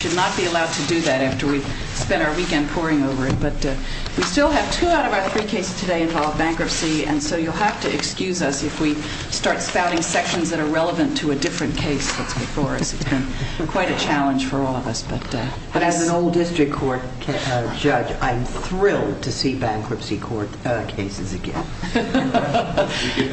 Court. We should not be allowed to do that after we spent our weekend poring over it, but we still have two out of our three cases today involve bankruptcy, and so you'll have to excuse us if we start spouting sections that are relevant to a different case that's before us. It's been quite a challenge for all of us, but as an old district court judge, I'm thrilled to see bankruptcy court cases again.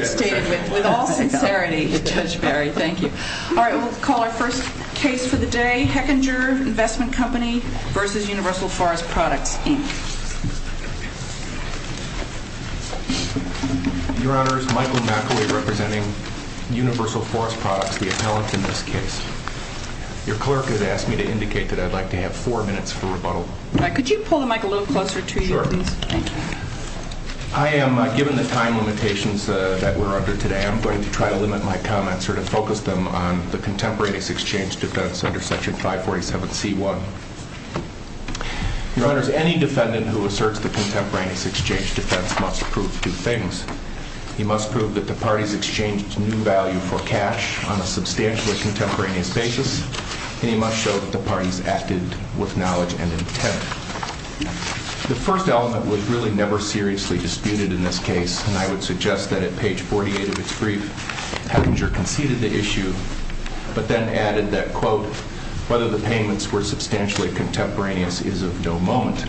Stated with all sincerity, Judge Barry. Thank you. All right, we'll call our first case for the day, Hechinger Investment Company v. Universal Forest Products, Inc. Your Honors, Michael McAlee representing Universal Forest Products, the appellant in this case. Your clerk has asked me to indicate that I'd like to have four minutes for rebuttal. Could you pull the mic a little closer to you, please? Sure. Thank you. I am, given the time limitations that we're under today, I'm going to try to limit my But then added that, quote, whether the payments were substantially contemporaneous is of no moment.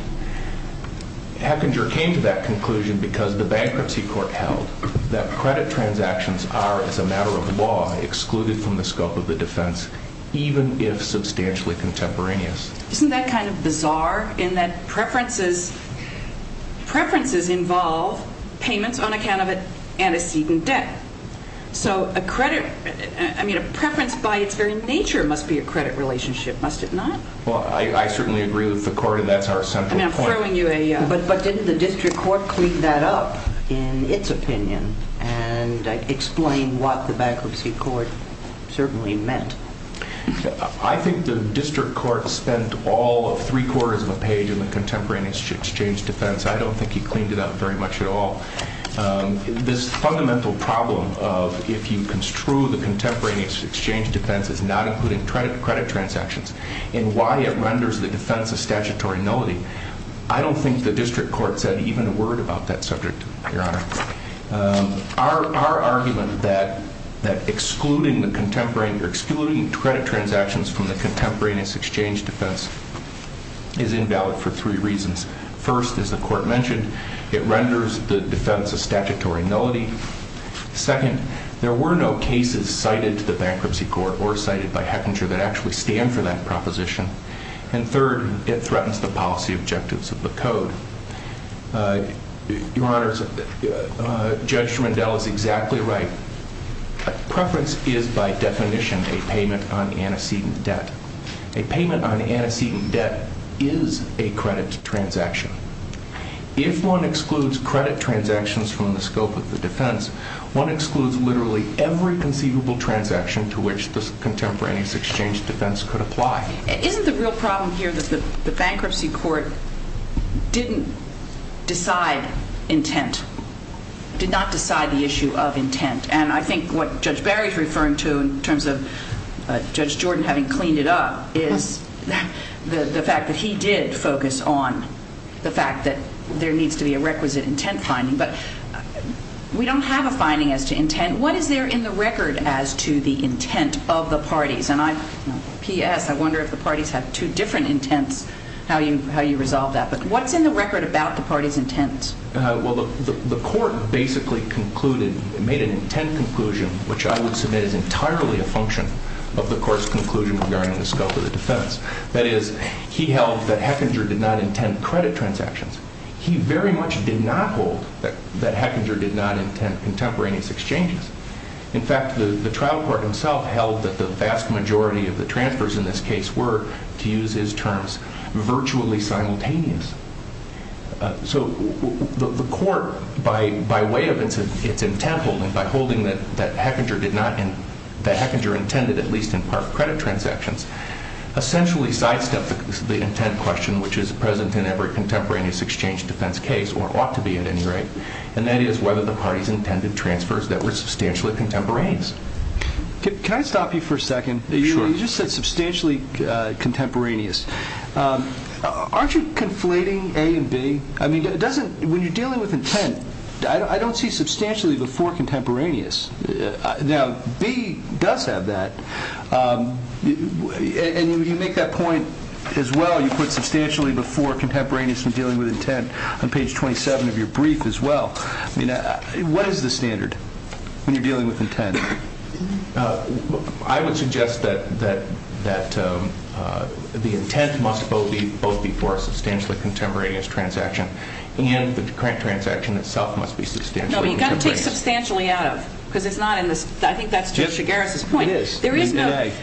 Hechinger came to that conclusion because the bankruptcy court held that credit transactions are, as a matter of law, excluded from the scope of the defense, even if substantially contemporaneous. Isn't that kind of bizarre in that preferences involve payments on account of antecedent debt? So a credit, I mean, a preference by its very nature must be a credit relationship, must it not? Well, I certainly agree with the court, and that's our central point. I mean, I'm throwing you a... But didn't the district court clean that up in its opinion and explain what the bankruptcy court certainly meant? I think the district court spent all of three quarters of a page in the contemporaneous exchange defense. I don't think he cleaned it up very much at all. This fundamental problem of if you construe the contemporaneous exchange defense as not including credit transactions and why it renders the defense a statutory nullity, I don't think the district court said even a word about that subject, Your Honor. Our argument that excluding the contemporary or excluding credit transactions from the contemporaneous exchange defense is invalid for three reasons. First, as the court mentioned, it renders the defense a statutory nullity. Second, there were no cases cited to the bankruptcy court or cited by Hechinger that actually stand for that proposition. And third, it threatens the policy objectives of the code. Your Honor, Judge Rendell is exactly right. Preference is by definition a payment on antecedent debt. A payment on antecedent debt is a credit transaction. If one excludes credit transactions from the scope of the defense, one excludes literally every conceivable transaction to which the contemporaneous exchange defense could apply. Isn't the real problem here that the bankruptcy court didn't decide intent, did not decide the issue of intent? And I think what Judge Barry is referring to in terms of Judge Jordan having cleaned it up is the fact that he did focus on the fact that there needs to be a requisite intent finding. But we don't have a finding as to intent. What is there in the record as to the intent of the parties? And P.S., I wonder if the parties have two different intents, how you resolve that. But what's in the record about the parties' intents? Well, the court basically concluded, made an intent conclusion, which I would submit is entirely a function of the court's conclusion regarding the scope of the defense. That is, he held that Hechinger did not intend credit transactions. He very much did not hold that Hechinger did not intend contemporaneous exchanges. In fact, the trial court himself held that the vast majority of the transfers in this case were, to use his terms, virtually simultaneous. So, the court, by way of its intent holding, by holding that Hechinger did not, that Hechinger intended at least in part credit transactions, essentially sidestepped the intent question which is present in every contemporaneous exchange defense case, or ought to be at any rate, and that is whether the parties intended transfers that were substantially contemporaneous. Can I stop you for a second? Sure. You just said substantially contemporaneous. Aren't you conflating A and B? I mean, when you're dealing with intent, I don't see substantially before contemporaneous. Now, B does have that, and you make that point as well, you put substantially before contemporaneous in dealing with intent on page 27 of your brief as well. What is the standard when you're dealing with intent? I would suggest that the intent must both be for a substantially contemporaneous transaction and the transaction itself must be substantially contemporaneous. No, but you've got to take substantially out of, because it's not in this, I think that's Judge Chigares' point. It is.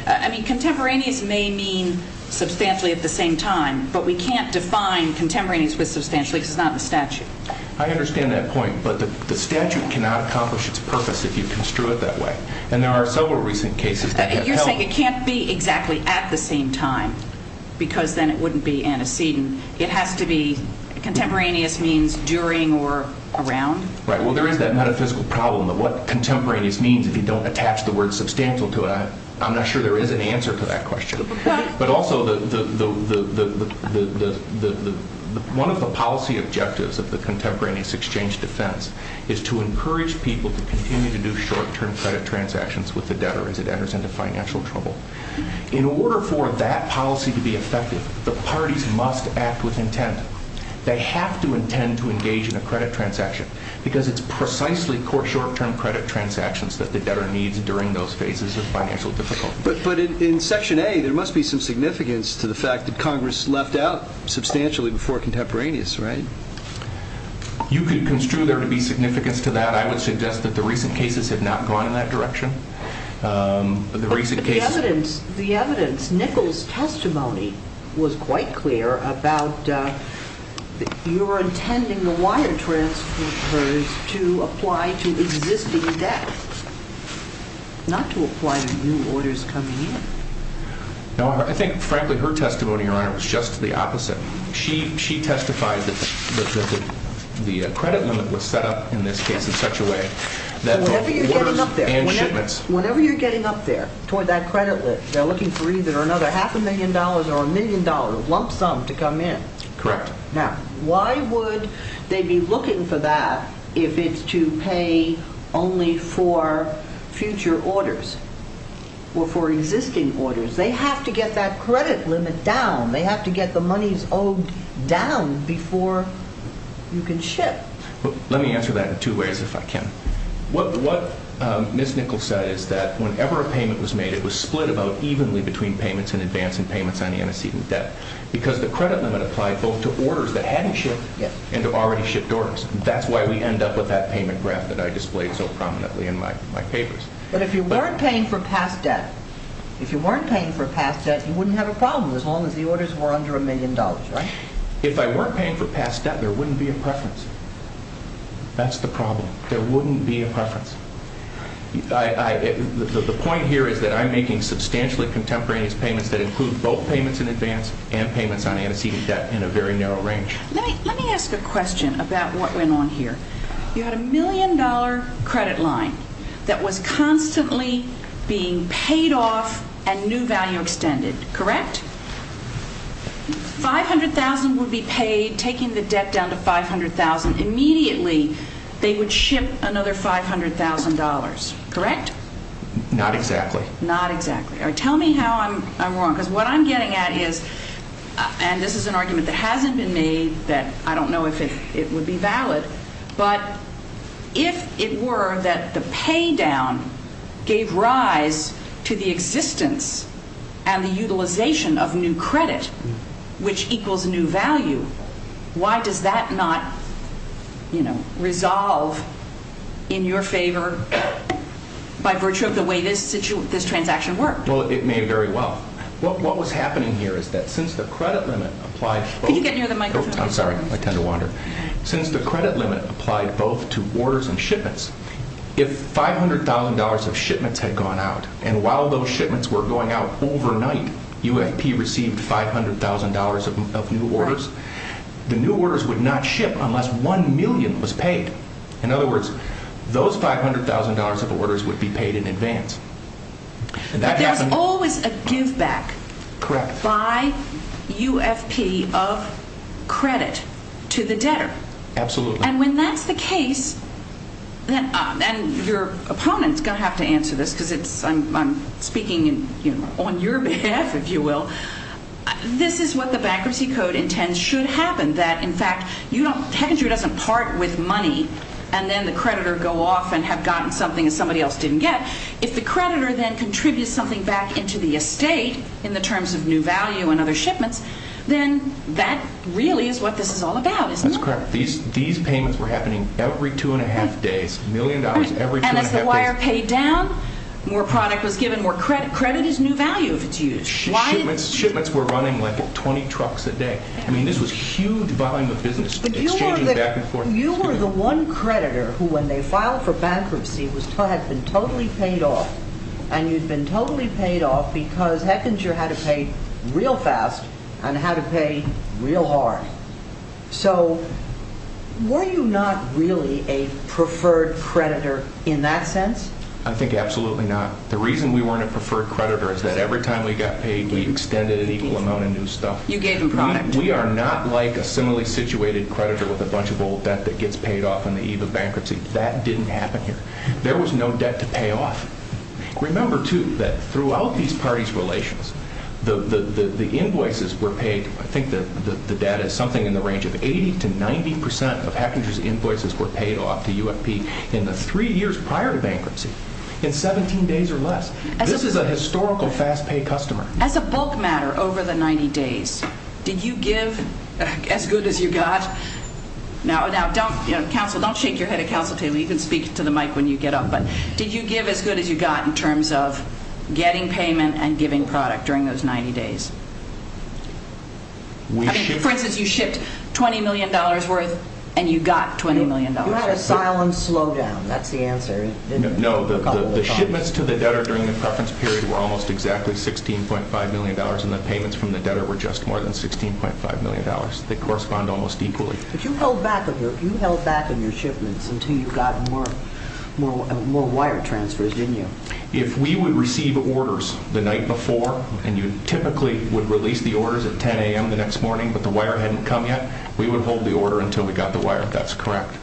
I mean, contemporaneous may mean substantially at the same time, but we can't define contemporaneous with substantially because it's not in the statute. I understand that point, but the statute cannot accomplish its purpose if you construe it that way. And there are several recent cases that have helped. You're saying it can't be exactly at the same time, because then it wouldn't be antecedent. It has to be contemporaneous means during or around? Right. Well, there is that metaphysical problem of what contemporaneous means if you don't attach the word substantial to it. I'm not sure there is an answer to that question. But also, one of the policy objectives of the contemporaneous exchange defense is to the debtor as it enters into financial trouble. In order for that policy to be effective, the parties must act with intent. They have to intend to engage in a credit transaction, because it's precisely court short-term credit transactions that the debtor needs during those phases of financial difficulty. But in Section A, there must be some significance to the fact that Congress left out substantially before contemporaneous, right? You could construe there to be significance to that. But I would suggest that the recent cases have not gone in that direction. The recent cases... But the evidence... The evidence... Nichols' testimony was quite clear about your intending the wire transfers to apply to existing debt, not to apply to new orders coming in. No, I think, frankly, her testimony, Your Honor, was just the opposite. She testified that the credit limit was set up, in this case, in such a way that the orders and shipments... Whenever you're getting up there, toward that credit limit, they're looking for either another half a million dollars or a million dollars, lump sum, to come in. Correct. Now, why would they be looking for that if it's to pay only for future orders or for existing orders? They have to get that credit limit down. They have to get the monies owed down before you can ship. Let me answer that in two ways, if I can. What Ms. Nichols said is that whenever a payment was made, it was split about evenly between payments in advance and payments on the antecedent debt, because the credit limit applied both to orders that hadn't shipped and to already shipped orders. That's why we end up with that payment graph that I displayed so prominently in my papers. But if you weren't paying for past debt, if you weren't paying for past debt, you wouldn't have a problem as long as the orders were under a million dollars, right? If I weren't paying for past debt, there wouldn't be a preference. That's the problem. There wouldn't be a preference. The point here is that I'm making substantially contemporaneous payments that include both payments in advance and payments on antecedent debt in a very narrow range. Let me ask a question about what went on here. You had a million dollar credit line that was constantly being paid off and new value extended. Correct? $500,000 would be paid, taking the debt down to $500,000. Immediately they would ship another $500,000, correct? Not exactly. Not exactly. All right. Tell me how I'm wrong, because what I'm getting at is, and this is an argument that hasn't been made, that I don't know if it would be valid, but if it were that the pay down gave rise to the existence and the utilization of new credit, which equals new value, why does that not, you know, resolve in your favor by virtue of the way this transaction worked? Well, it may very well. What was happening here is that since the credit limit applied both to orders and shipments, if $500,000 of shipments had gone out, and while those shipments were going out overnight, UFP received $500,000 of new orders, the new orders would not ship unless one million was paid. In other words, those $500,000 of orders would be paid in advance. But there's always a give back by UFP of credit to the debtor. Absolutely. And when that's the case, and your opponent's going to have to answer this, because I'm speaking on your behalf, if you will, this is what the Bankruptcy Code intends should happen. That, in fact, Heckinger doesn't part with money, and then the creditor go off and have gotten something that somebody else didn't get. If the creditor then contributes something back into the estate, in the terms of new value and other shipments, then that really is what this is all about, isn't it? That's correct. These payments were happening every two and a half days, a million dollars every two and a half days. And as the wire paid down, more product was given, more credit. Credit is new value if it's used. Shipments were running like 20 trucks a day. I mean, this was a huge volume of business, exchanging back and forth. You were the one creditor who, when they filed for bankruptcy, had been totally paid off, and you'd been totally paid off because Heckinger had to pay real fast and had to pay real hard. So, were you not really a preferred creditor in that sense? I think absolutely not. The reason we weren't a preferred creditor is that every time we got paid, we extended an equal amount of new stuff. You gave them product. We are not like a similarly situated creditor with a bunch of old debt that gets paid off on the eve of bankruptcy. That didn't happen here. There was no debt to pay off. Remember, too, that throughout these parties' relations, the invoices were paid, I think the data is something in the range of 80 to 90 percent of Heckinger's invoices were paid off to UFP in the three years prior to bankruptcy, in 17 days or less. This is a historical fast-pay customer. As a bulk matter, over the 90 days, did you give as good as you got—now, don't shake your head at counsel table. You can speak to the mic when you get up—but did you give as good as you got in terms of For instance, you shipped $20 million worth and you got $20 million. You had a silent slowdown. That's the answer, didn't you? No, the shipments to the debtor during the preference period were almost exactly $16.5 million, and the payments from the debtor were just more than $16.5 million. They correspond almost equally. But you held back on your shipments until you got more wire transfers, didn't you? If we would receive orders the night before, and you typically would release the orders at 10 a.m. the next morning, but the wire hadn't come yet, we would hold the order until we got the wire, if that's correct.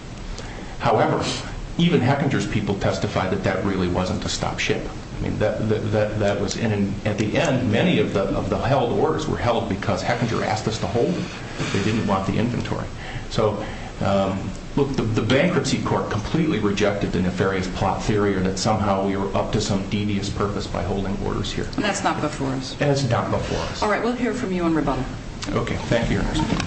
However, even Hechinger's people testified that that really wasn't a stop ship. That was in—at the end, many of the held orders were held because Hechinger asked us to hold them. They didn't want the inventory. So look, the bankruptcy court completely rejected the nefarious plot theory that somehow we were up to some devious purpose by holding orders here. And that's not before us. That's not before us. All right. We'll hear from you on rebuttal. Okay. Thank you, Your Honor.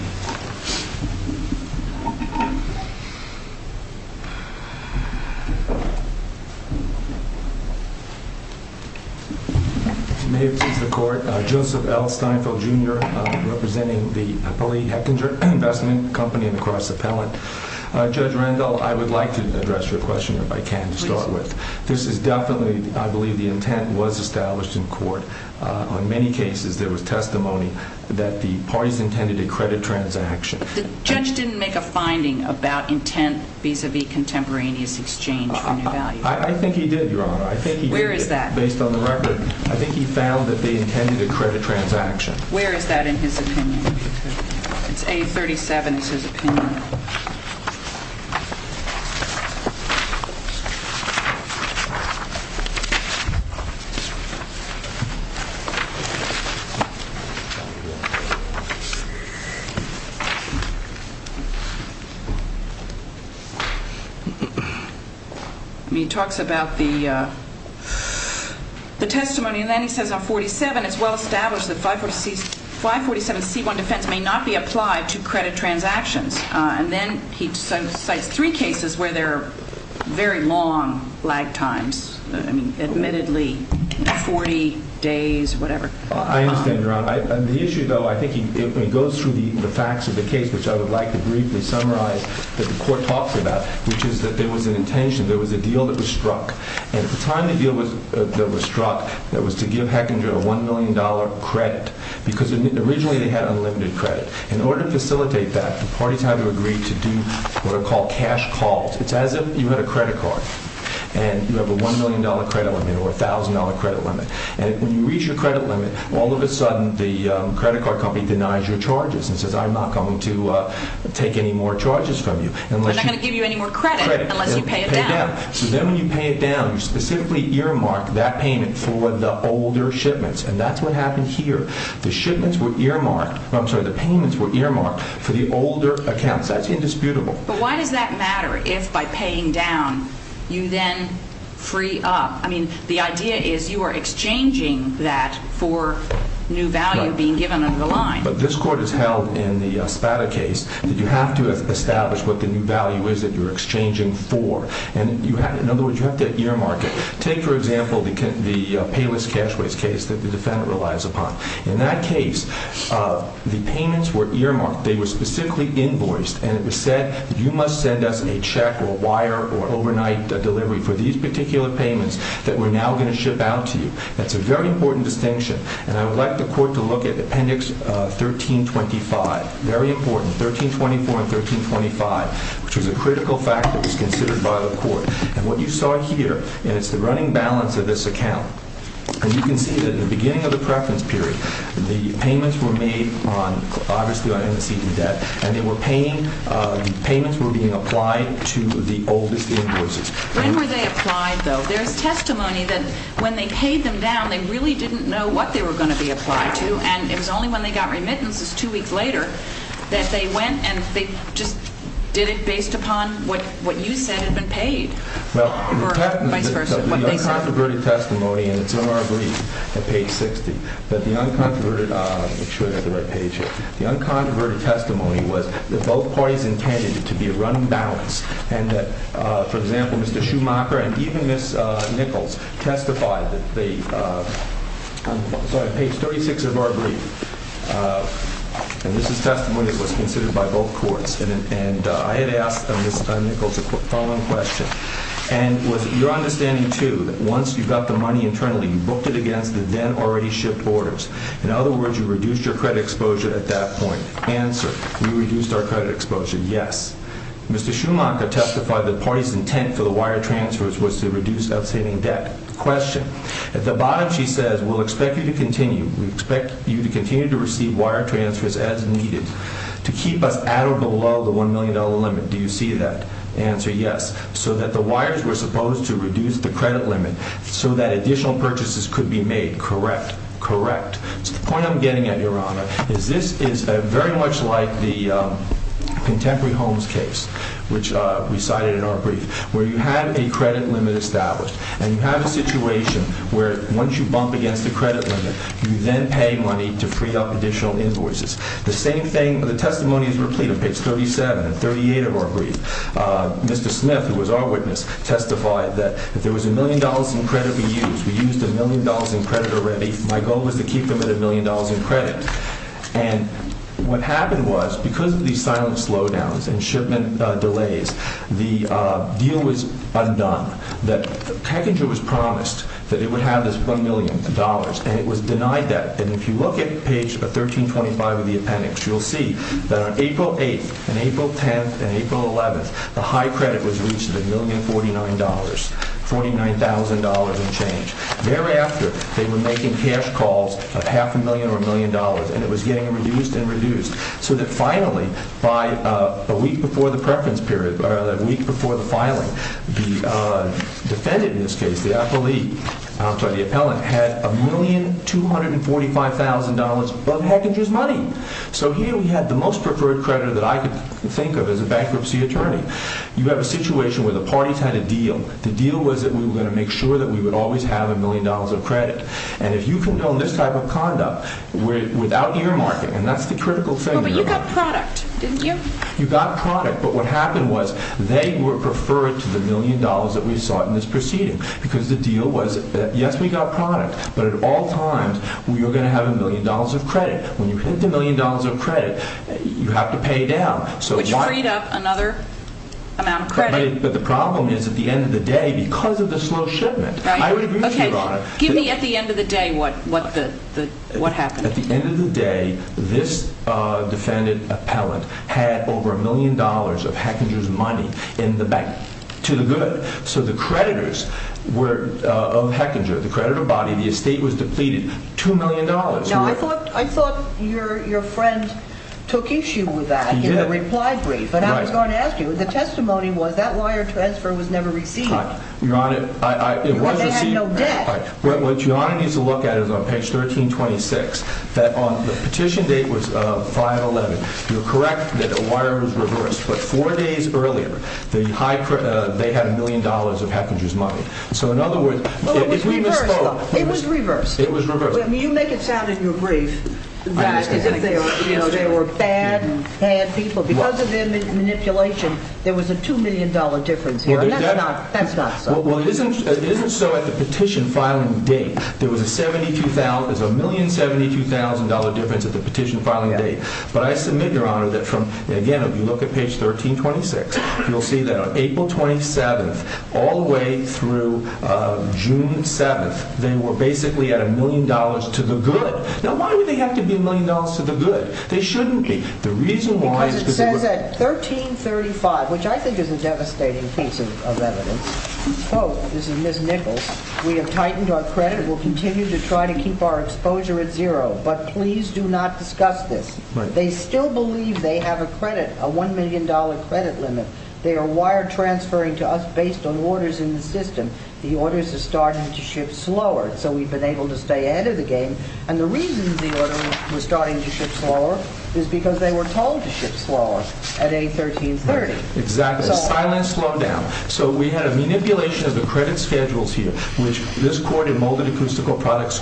May it please the Court, Joseph L. Steinfeld, Jr., representing the Polly Hechinger Investment Company and the Cross Appellant. Judge Randall, I would like to address your question, if I can, to start with. This is definitely, I believe, the intent was established in court. On many cases, there was testimony that the parties intended a credit transaction. The judge didn't make a finding about intent vis-à-vis contemporaneous exchange for new value. I think he did, Your Honor. I think he did. Where is that? Based on the record. I think he found that they intended a credit transaction. Where is that in his opinion? It's A37 is his opinion. He talks about the testimony and then he says on 47, it's well established that 547C1 defense may not be applied to credit transactions. And then he cites three cases where there are very long lag times, I mean, admittedly 40 days, whatever. I understand, Your Honor. On the issue, though, I think he goes through the facts of the case, which I would like to briefly summarize that the Court talks about, which is that there was an intention, there was a deal that was struck. And at the time the deal was struck, it was to give Hechinger a $1 million credit. Because originally they had unlimited credit. In order to facilitate that, the parties had to agree to do what are called cash calls. It's as if you had a credit card and you have a $1 million credit limit or a $1,000 credit limit. And when you reach your credit limit, all of a sudden the credit card company denies your charges and says, I'm not going to take any more charges from you. They're not going to give you any more credit unless you pay it down. So then when you pay it down, you specifically earmark that payment for the older shipments. And that's what happened here. The shipments were earmarked, I'm sorry, the payments were earmarked for the older accounts. That's indisputable. But why does that matter if by paying down you then free up? I mean, the idea is you are exchanging that for new value being given under the line. But this Court has held in the Spada case that you have to establish what the new value is that you're exchanging for. And you have, in other words, you have to earmark it. Take, for example, the Payless Cash Waste case that the defendant relies upon. In that case, the payments were earmarked. They were specifically invoiced. And it was said, you must send us a check or wire or overnight delivery for these particular payments that we're now going to ship out to you. That's a very important distinction. And I would like the Court to look at Appendix 1325. Very important. And what you saw here, and it's the running balance of this account, and you can see that in the beginning of the preference period, the payments were made on, obviously, on embezzled debt. And they were paying, the payments were being applied to the oldest invoices. When were they applied, though? There's testimony that when they paid them down, they really didn't know what they were going to be applied to. And it was only when they got remittances two weeks later that they went and they just did it based upon what you said had been paid. Or vice versa. What they said. Well, technically, the uncontroverted testimony, and it's in our brief at page 60, but the uncontroverted, make sure I got the right page here, the uncontroverted testimony was that both parties intended it to be a running balance and that, for example, Mr. Schumacher and even Ms. Nichols testified that they, I'm sorry, page 36 of our brief, and this And I had asked Ms. Nichols a follow-up question. And was your understanding, too, that once you got the money internally, you booked it against the then-already-shipped borders? In other words, you reduced your credit exposure at that point. Answer. We reduced our credit exposure, yes. Mr. Schumacher testified that the party's intent for the wire transfers was to reduce outstanding debt. Question. At the bottom, she says, we'll expect you to continue, we expect you to continue to limit. Do you see that? Answer. Yes. So that the wires were supposed to reduce the credit limit so that additional purchases could be made. Correct. Correct. So the point I'm getting at, Your Honor, is this is very much like the Contemporary Homes case, which we cited in our brief, where you have a credit limit established, and you have a situation where once you bump against the credit limit, you then pay money to free up additional invoices. The same thing, the testimony is replete on page 37 and 38 of our brief. Mr. Smith, who was our witness, testified that if there was a million dollars in credit we used, we used a million dollars in credit already, my goal was to keep them at a million dollars in credit. And what happened was, because of these silent slowdowns and shipment delays, the deal was undone. That Packager was promised that it would have this one million dollars, and it was denied that. And if you look at page 1325 of the appendix, you'll see that on April 8th and April 10th and April 11th, the high credit was reached at a million forty-nine dollars, forty-nine thousand dollars and change. Thereafter, they were making cash calls of half a million or a million dollars, and it was getting reduced and reduced, so that finally, by a week before the preference period, or a week before the filing, the defendant in this case, the appellee, I'm sorry, the appellant, had a million two hundred and forty-five thousand dollars of Packager's money. So here we had the most preferred creditor that I could think of as a bankruptcy attorney. You have a situation where the parties had a deal. The deal was that we were going to make sure that we would always have a million dollars of credit. And if you can build this type of conduct without earmarking, and that's the critical thing. Well, but you got product, didn't you? You got product, but what happened was, they were preferred to the million dollars that we sought in this proceeding, because the deal was that, yes, we got product, but at all times, we were going to have a million dollars of credit. When you hit the million dollars of credit, you have to pay down. Which freed up another amount of credit. But the problem is, at the end of the day, because of the slow shipment, I would agree with you, Your Honor. Give me at the end of the day what happened. At the end of the day, this defendant, appellant, had over a million dollars of Packager's money in the bank. To the good. So the creditors of Hechinger, the creditor body, the estate was depleted. Two million dollars. Now, I thought your friend took issue with that in the reply brief. But I was going to ask you, the testimony was that wire transfer was never received. Your Honor, it was received. They had no debt. What Your Honor needs to look at is on page 1326. The petition date was 5-11. You're correct that the wire was reversed. But four days earlier, they had a million dollars of Hechinger's money. So in other words... It was reversed, though. It was reversed. It was reversed. You make it sound in your brief that they were bad people. Because of their manipulation, there was a two million dollar difference here. That's not so. Well, it isn't so at the petition filing date. There was a $1,072,000 difference at the petition filing date. But I submit, Your Honor, that from... Again, if you look at page 1326, you'll see that on April 27th, all the way through June 7th, they were basically at a million dollars to the good. Now, why would they have to be a million dollars to the good? They shouldn't be. The reason why... Because it says at 1335, which I think is a devastating piece of evidence... Oh, this is Ms. Nichols. We have tightened our credit. We'll continue to try to keep our exposure at zero. But please do not discuss this. They still believe they have a credit, a $1,000,000 credit limit. They are wire transferring to us based on orders in the system. The orders are starting to ship slower. So we've been able to stay ahead of the game. And the reason the order was starting to ship slower is because they were told to ship slower at A1330. Exactly. Silent slowdown. So we had a manipulation of the credit schedules here, which this court in molded acoustical products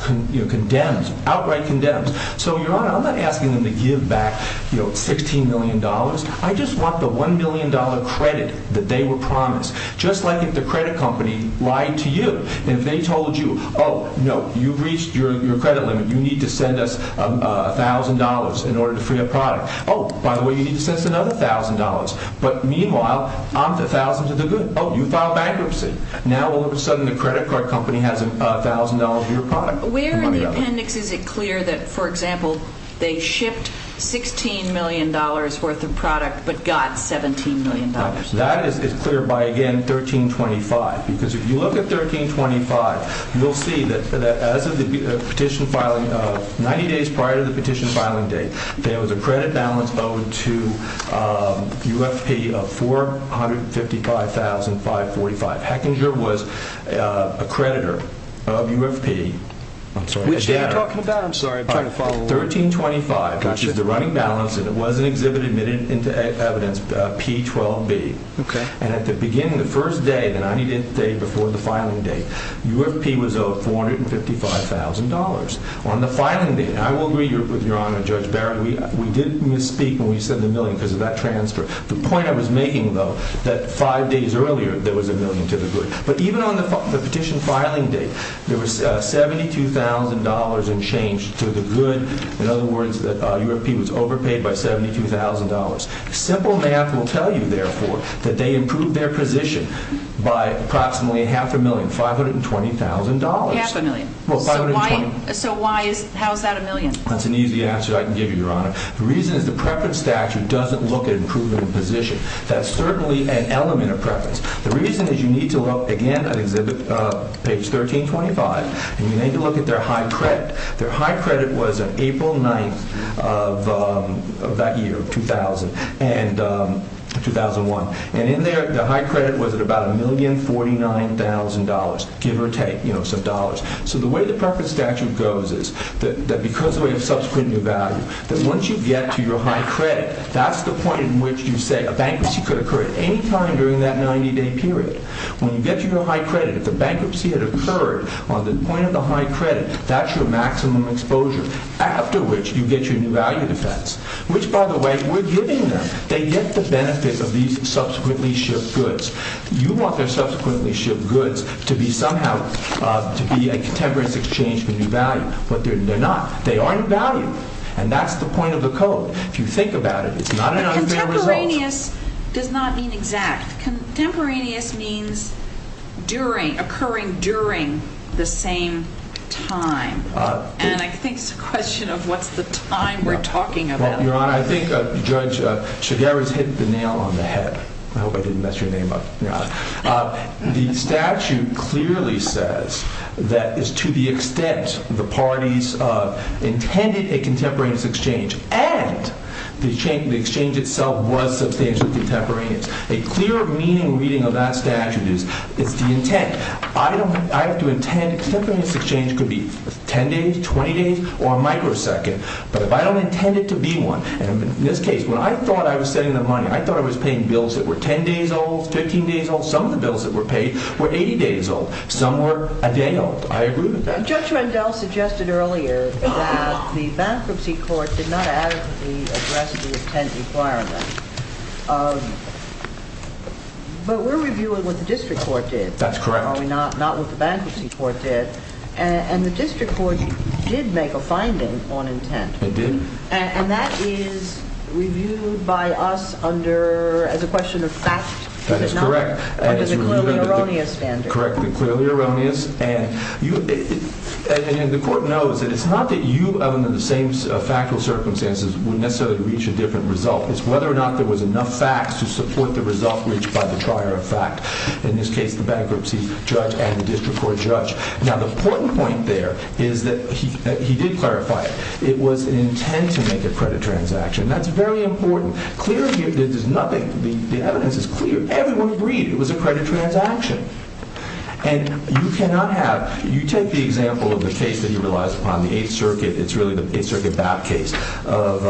outright condemns. So, Your Honor, I'm not asking them to give back $16,000,000. I just want the $1,000,000 credit that they were promised. Just like if the credit company lied to you. If they told you, oh, no, you've reached your credit limit. You need to send us $1,000 in order to free a product. Oh, by the way, you need to send us another $1,000. But meanwhile, I'm the thousandth of the good. Oh, you filed bankruptcy. Now all of a sudden the credit card company has $1,000 of your product. Where in the appendix is it clear that, for example, they shipped $16,000,000 worth of product but got $17,000,000? That is clear by, again, A1325. Because if you look at A1325, you'll see that as of the petition filing, 90 days prior to the petition filing date, there was a credit balance owed to UFP of $455,545. Hechinger was a creditor of UFP. Which day are you talking about? I'm sorry. A1325, which is the running balance, and it was an exhibit admitted into evidence, P12B. And at the beginning, the first day, the 90-day before the filing date, UFP was owed $455,000. On the filing date, I will agree with Your Honor, Judge Barrett, we did misspeak when we said the million because of that transfer. The point I was making, though, that five days earlier, there was a million to the good. But even on the petition filing date, there was $72,000 in change to the good. In other words, UFP was overpaid by $72,000. Simple math will tell you, therefore, that they improved their position by approximately half a million, $520,000. Half a million? So how is that a million? That's an easy answer I can give you, Your Honor. The reason is the preference statute doesn't look at improvement of position. That's certainly an element of preference. The reason is you need to look, again, at exhibit page 1325, and you need to look at their high credit. Their high credit was on April 9th of that year, 2000, and 2001. And in there, the high credit was at about $1,049,000, give or take, you know, some dollars. So the way the preference statute goes is that because we have subsequent new value, that once you get to your high credit, that's the point in which you say a bankruptcy could occur at any time during that 90-day period. When you get to your high credit, if the bankruptcy had occurred on the point of the high credit, that's your maximum exposure, after which you get your new value defense, which, by the way, we're giving them. They get the benefit of these subsequently shipped goods. You want their subsequently shipped goods to be somehow, to be a contemporary exchange for new value. But they're not. They aren't valued. And that's the point of the code. If you think about it, it's not an unfair result. But contemporaneous does not mean exact. Contemporaneous means occurring during the same time. And I think it's a question of what's the time we're talking about. Well, Your Honor, I think Judge Chiguera's hit the nail on the head. I hope I didn't mess your name up, Your Honor. The statute clearly says that it's to the extent the parties intended a contemporaneous exchange and the exchange itself was substantial contemporaneous. A clear meaning reading of that statute is it's the intent. I have to intend a contemporaneous exchange could be 10 days, 20 days, or a microsecond. But if I don't intend it to be one, and in this case, when I thought I was setting the money, I thought I was paying bills that were 10 days old, 15 days old. Some of the bills that were paid were 80 days old. Some were a day old. I agree with that. Judge Rendell suggested earlier that the bankruptcy court did not adequately address the intent requirement. But we're reviewing what the district court did. That's correct. Not what the bankruptcy court did. And the district court did make a finding on intent. It did? And that is reviewed by us as a question of fact. That is correct. Under the clearly erroneous standard. Correct. The clearly erroneous. And the court knows that it's not that you, other than the same factual circumstances, would necessarily reach a different result. It's whether or not there was enough facts to support the result reached by the trier of fact. In this case, the bankruptcy judge and the district court judge. Now, the important point there is that he did clarify it. It was an intent to make a credit transaction. That's very important. The evidence is clear. Everyone agreed it was a credit transaction. And you cannot have, you take the example of the case that he relies upon, the 8th Circuit, it's really the 8th Circuit bout case, of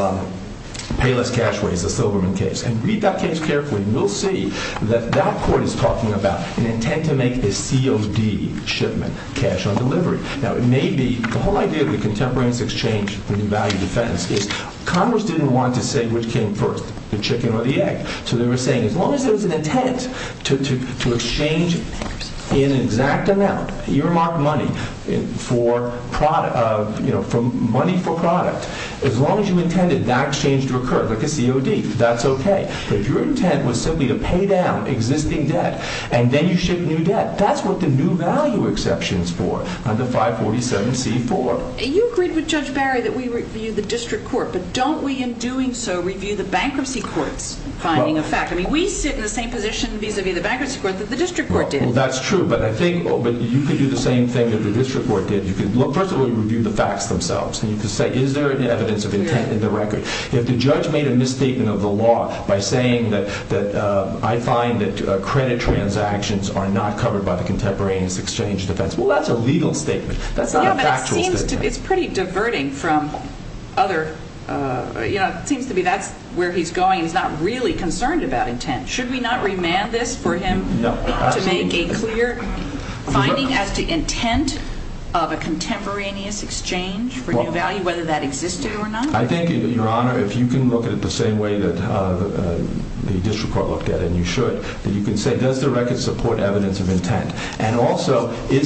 Payless Cashways, the Silberman case. And read that case carefully and you'll see that that court is talking about an intent to make a COD shipment, cash on delivery. Now, it may be, the whole idea of the contemporaneous exchange for the value defense is Congress didn't want to say which came first, the chicken or the egg. So they were saying as long as there was an intent to exchange in exact amount, earmarked money for product, you know, money for product, as long as you intended that exchange to occur, like a COD, that's okay. But if your intent was simply to pay down existing debt and then you ship new debt, that's what the new value exception is for under 547C4. You agreed with Judge Barry that we review the district court, but don't we in doing so review the bankruptcy court's finding of fact? I mean, we sit in the same position vis-a-vis the bankruptcy court that the district court did. Well, that's true. But I think you could do the same thing that the district court did. First of all, you review the facts themselves. And you could say, is there an evidence of intent in the record? If the judge made a misstatement of the law by saying that I find that credit transactions are not covered by the contemporaneous exchange defense, well, that's a legal statement. That's not a factual statement. Yeah, but it seems to be, it's pretty diverting from other, you know, it seems to be that's where he's going. He's not really concerned about intent. Should we not remand this for him? No. To make a clear finding as to intent of a contemporaneous exchange for new value, whether that existed or not? I think, Your Honor, if you can look at it the same way that the district court looked at it, and you should, that you can say, does the record support evidence of intent? And also, did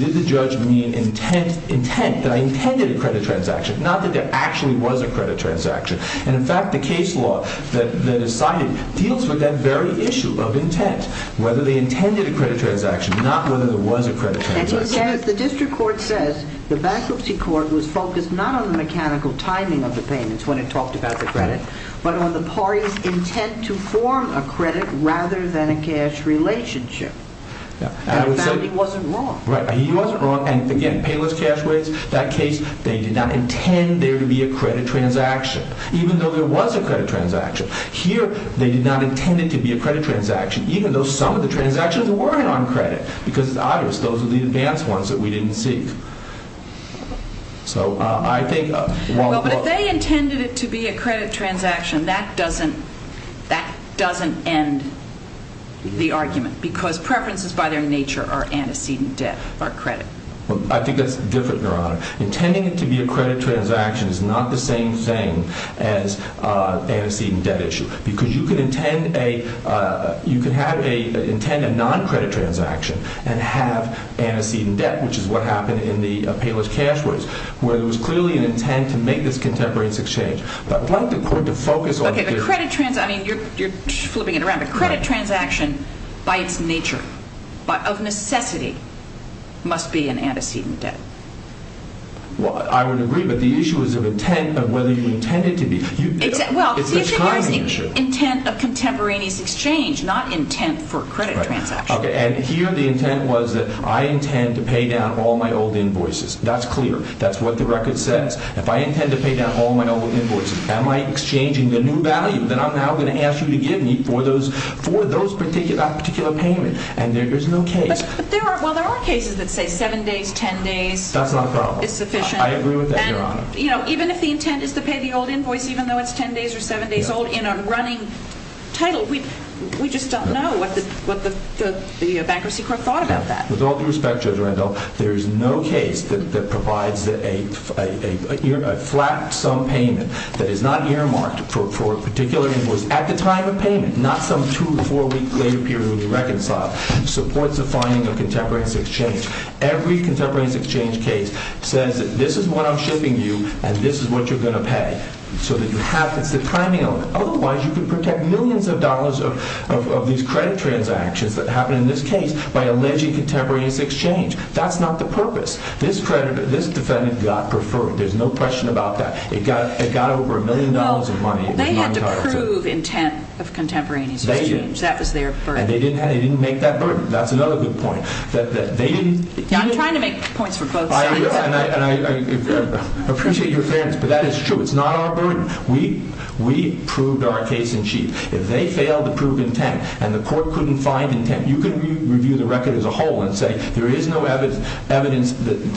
the judge mean intent, that I intended a credit transaction? Not that there actually was a credit transaction. And, in fact, the case law that is cited deals with that very issue of intent, whether they intended a credit transaction, not whether there was a credit transaction. As the district court says, the bankruptcy court was focused not on the mechanical timing of the payments when it talked about the credit, but on the party's intent to form a credit rather than a cash relationship. Yeah. And he wasn't wrong. Right, he wasn't wrong. And, again, payless cash rates, that case, they did not intend there to be a credit transaction. Even though there was a credit transaction. Here, they did not intend it to be a credit transaction, even though some of the transactions weren't on credit. Because, it's obvious, those are the advanced ones that we didn't seek. So, I think... Well, but if they intended it to be a credit transaction, that doesn't end the argument. Because preferences by their nature are antecedent debt, or credit. I think that's different, Your Honor. Intending it to be a credit transaction is not the same thing as antecedent debt issue. Because you could intend a non-credit transaction and have antecedent debt, which is what happened in the payless cash rates, where there was clearly an intent to make this contemporaneous exchange. But I'd like the court to focus on... Okay, the credit transaction... I mean, you're flipping it around. The credit transaction, by its nature, of necessity, must be an antecedent debt. Well, I would agree. But the issue is of intent, of whether you intended it to be. Well, the issue here is the intent of contemporaneous exchange, not intent for a credit transaction. Okay, and here the intent was that I intend to pay down all my old invoices. That's clear. That's what the record says. If I intend to pay down all my old invoices, am I exchanging the new value that I'm now going to ask you to give me for that particular payment? And there's no case. But there are... Well, there are cases that say 7 days, 10 days... That's not a problem. ...is sufficient. I agree with that, Your Honor. And, you know, even if the intent is to pay the old invoice, even though it's 10 days or 7 days old, in a running title, we just don't know what the bankruptcy court thought about that. With all due respect, Judge Randolph, there is no case that provides a flat sum payment that is not earmarked for a particular invoice at the time of payment, not some 2 or 4-week later period when you reconcile. It supports the finding of contemporaneous exchange. Every contemporaneous exchange case says that this is what I'm shipping you and this is what you're going to pay. So that you have... It's the timing element. Otherwise, you could protect millions of dollars of these credit transactions that happen in this case by alleging contemporaneous exchange. That's not the purpose. This defendant got preferred. There's no question about that. It got over a million dollars of money. They had to prove intent of contemporaneous exchange. They did. That was their burden. And they didn't make that burden. That's another good point. They didn't... I'm trying to make points for both sides. I appreciate your fairness, but that is true. It's not our burden. We proved our case in chief. If they failed to prove intent and the court couldn't find intent, you can review the record as a whole and say there is no evidence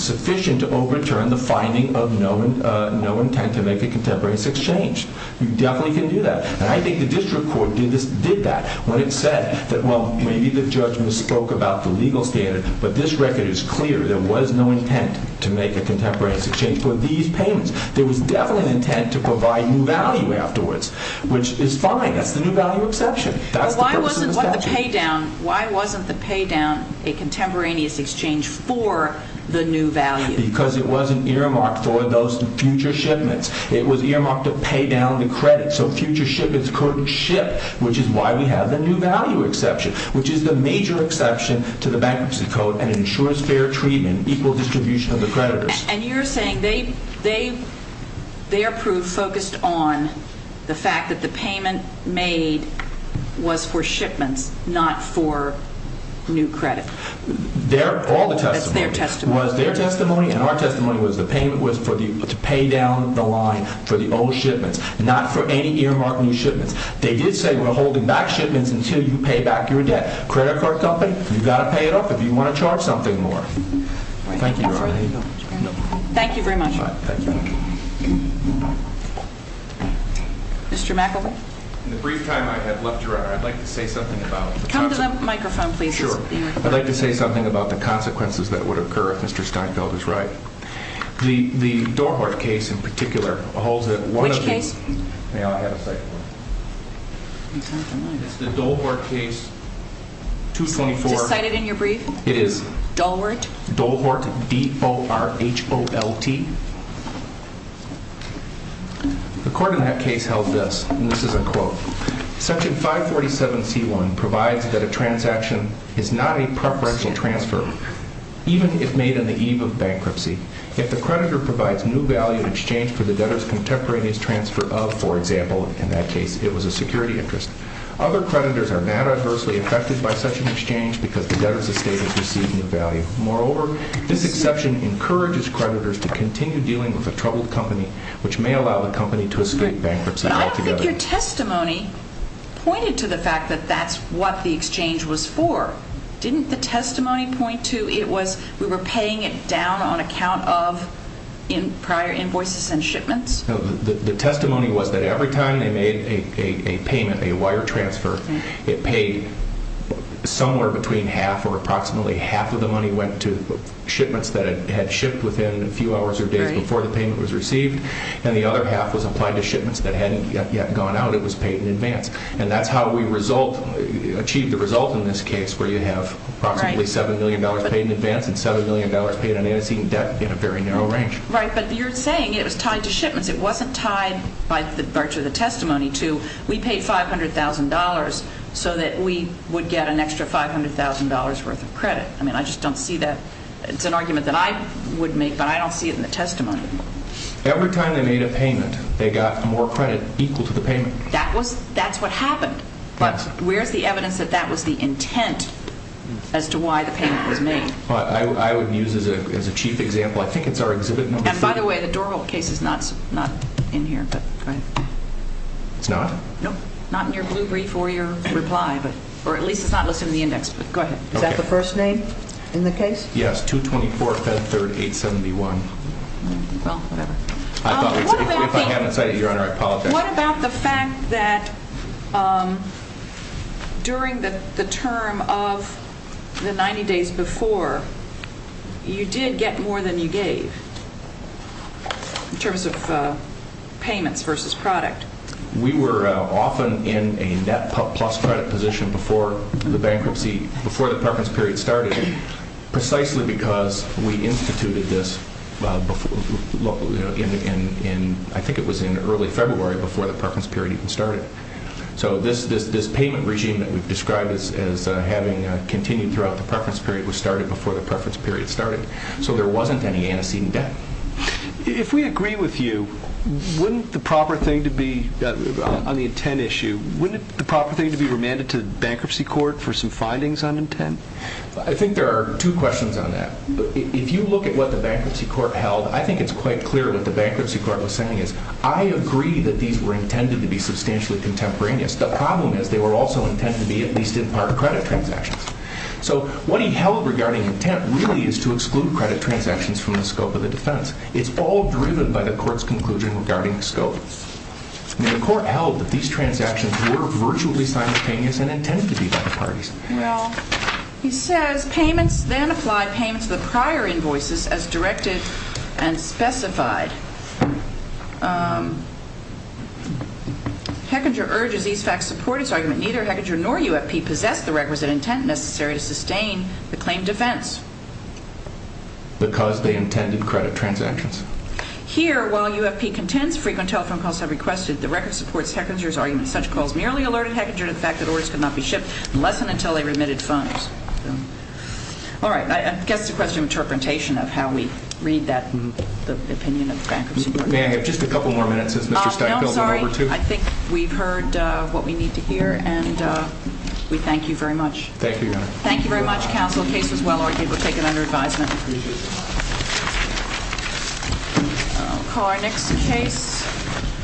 sufficient to overturn the finding of no intent to make a contemporaneous exchange. You definitely can do that. And I think the district court did that when it said that, well, maybe the judge misspoke about the legal standard, but this record is clear. There was no intent to make a contemporaneous exchange for these payments. There was definitely an intent to provide new value afterwards, which is fine. That's the new value exception. That's the person's value. Why wasn't the paydown... Why wasn't the paydown a contemporaneous exchange for the new value? Because it wasn't earmarked for those future shipments. It was earmarked to pay down the credit. So future shipments couldn't ship, which is why we have the new value exception, which is the major exception to the Bankruptcy Code and ensures fair treatment, equal distribution of the creditors. And you're saying they... their proof focused on the fact that the payment made was for shipments, not for new credit. Their... All the testimony... That's their testimony. ...was their testimony and our testimony was the payment was for the... to pay down the line for the old shipments, not for any earmarked new shipments. They did say we're holding back shipments until you pay back your debt. Credit card company, you've got to pay it off if you want to charge something more. Thank you, Your Honor. I'm sorry. Thank you very much. All right. Thank you. Mr. McEvoy? In the brief time I have left Your Honor, I'd like to say something about the consequences... Come to the microphone, please. Sure. I'd like to say something about the consequences that would occur if Mr. Steinfeld is right. The... the Dohart case in particular holds that one of the... Which case? May I have a second? It's not mine. It's the Dohart case... 224. Do you want me to cite it in your brief? It is. Dohart? Dohart. D-O-R-H-O-L-T. The court in that case held this, and this is a quote. Section 547C1 provides that a transaction is not a preferential transfer, even if made on the eve of bankruptcy. Yet the creditor provides new value in exchange for the debtor's contemporaneous for example, in that case, it was a security interest. Other creditors are not adversely affected by such an exchange because the creditors are not adversely affected by such an exchange because the debtor's estate has received new value. Moreover, this exception encourages creditors to continue dealing with a troubled company which may allow the company to escape bankruptcy altogether. But I don't think your testimony pointed to the fact that that's what the exchange was for. Didn't the testimony point to it was we were paying it down on account of prior invoices and shipments? No, the testimony was that every time they made a payment, a wire transfer, it paid somewhere between half or approximately half of the money went to shipments that had shipped within a few hours or days before the payment was received and the other half was applied to shipments that hadn't yet gone out and was paid in advance. And that's how we achieved the result in this case where you have approximately $7 million paid in advance and $7 million paid on antecedent debt in a very narrow range. Right, but you're saying it was tied to shipments. It wasn't tied by virtue of the testimony to we paid $500,000 so that we would get an extra $500,000 worth of credit. I mean, I just don't see that. It's an argument that I would make but I don't see it in the testimony. Every time they made a payment, they got more credit equal to the payment. That was, that's what happened. But where's the evidence that that was the intent as to why the payment was made? I would use as a chief example, I think it's our exhibit number. And by the way, the doorhole case is not in here, but go ahead. It's not? No, not in your blue brief or your reply, but, or at least it's not listed in the index, but go ahead. Is that the first name in the case? Yes, 224, Feb 3rd, 871. Well, whatever. If I haven't cited it, Your Honor, I apologize. What about the fact that during the term of the 90 days before, you did get more than you gave in terms of payments versus product? We were often in a net plus credit position before the bankruptcy, before the preference period started, precisely because we instituted this in, I think it was in early February before the preference period even started. So this payment regime that we've described as having continued throughout the preference period was started before the preference period started. So there wasn't any antecedent debt. If we agree with you, wouldn't the proper thing to be, on the intent issue, wouldn't the proper thing to be remanded to the bankruptcy court for some findings on intent? I think there are two questions on that. If you look at what the bankruptcy court held, I think it's quite clear what the bankruptcy was that they didn't include credit transactions from the scope of the defense. It's all driven by the court's conclusion regarding scope. The court held that these transactions were virtually simultaneous and intended to be by the parties. Well, he says, payments then apply payments of the prior invoices as directed and specified. Hechinger urges these facts support his argument. Neither Hechinger nor UFP possess the requisite intent necessary to sustain the claim defense. Because they intended credit transactions. Here, while UFP contends frequent telephone calls have requested, the record supports Hechinger's argument. Such calls merely alerted Hechinger to the fact that orders could not be shipped unless and until they remitted funds. All right. I guess it's a question of interpretation of how we read that opinion. May I have just a couple more minutes since Mr. Hechinger is here. I'll call our next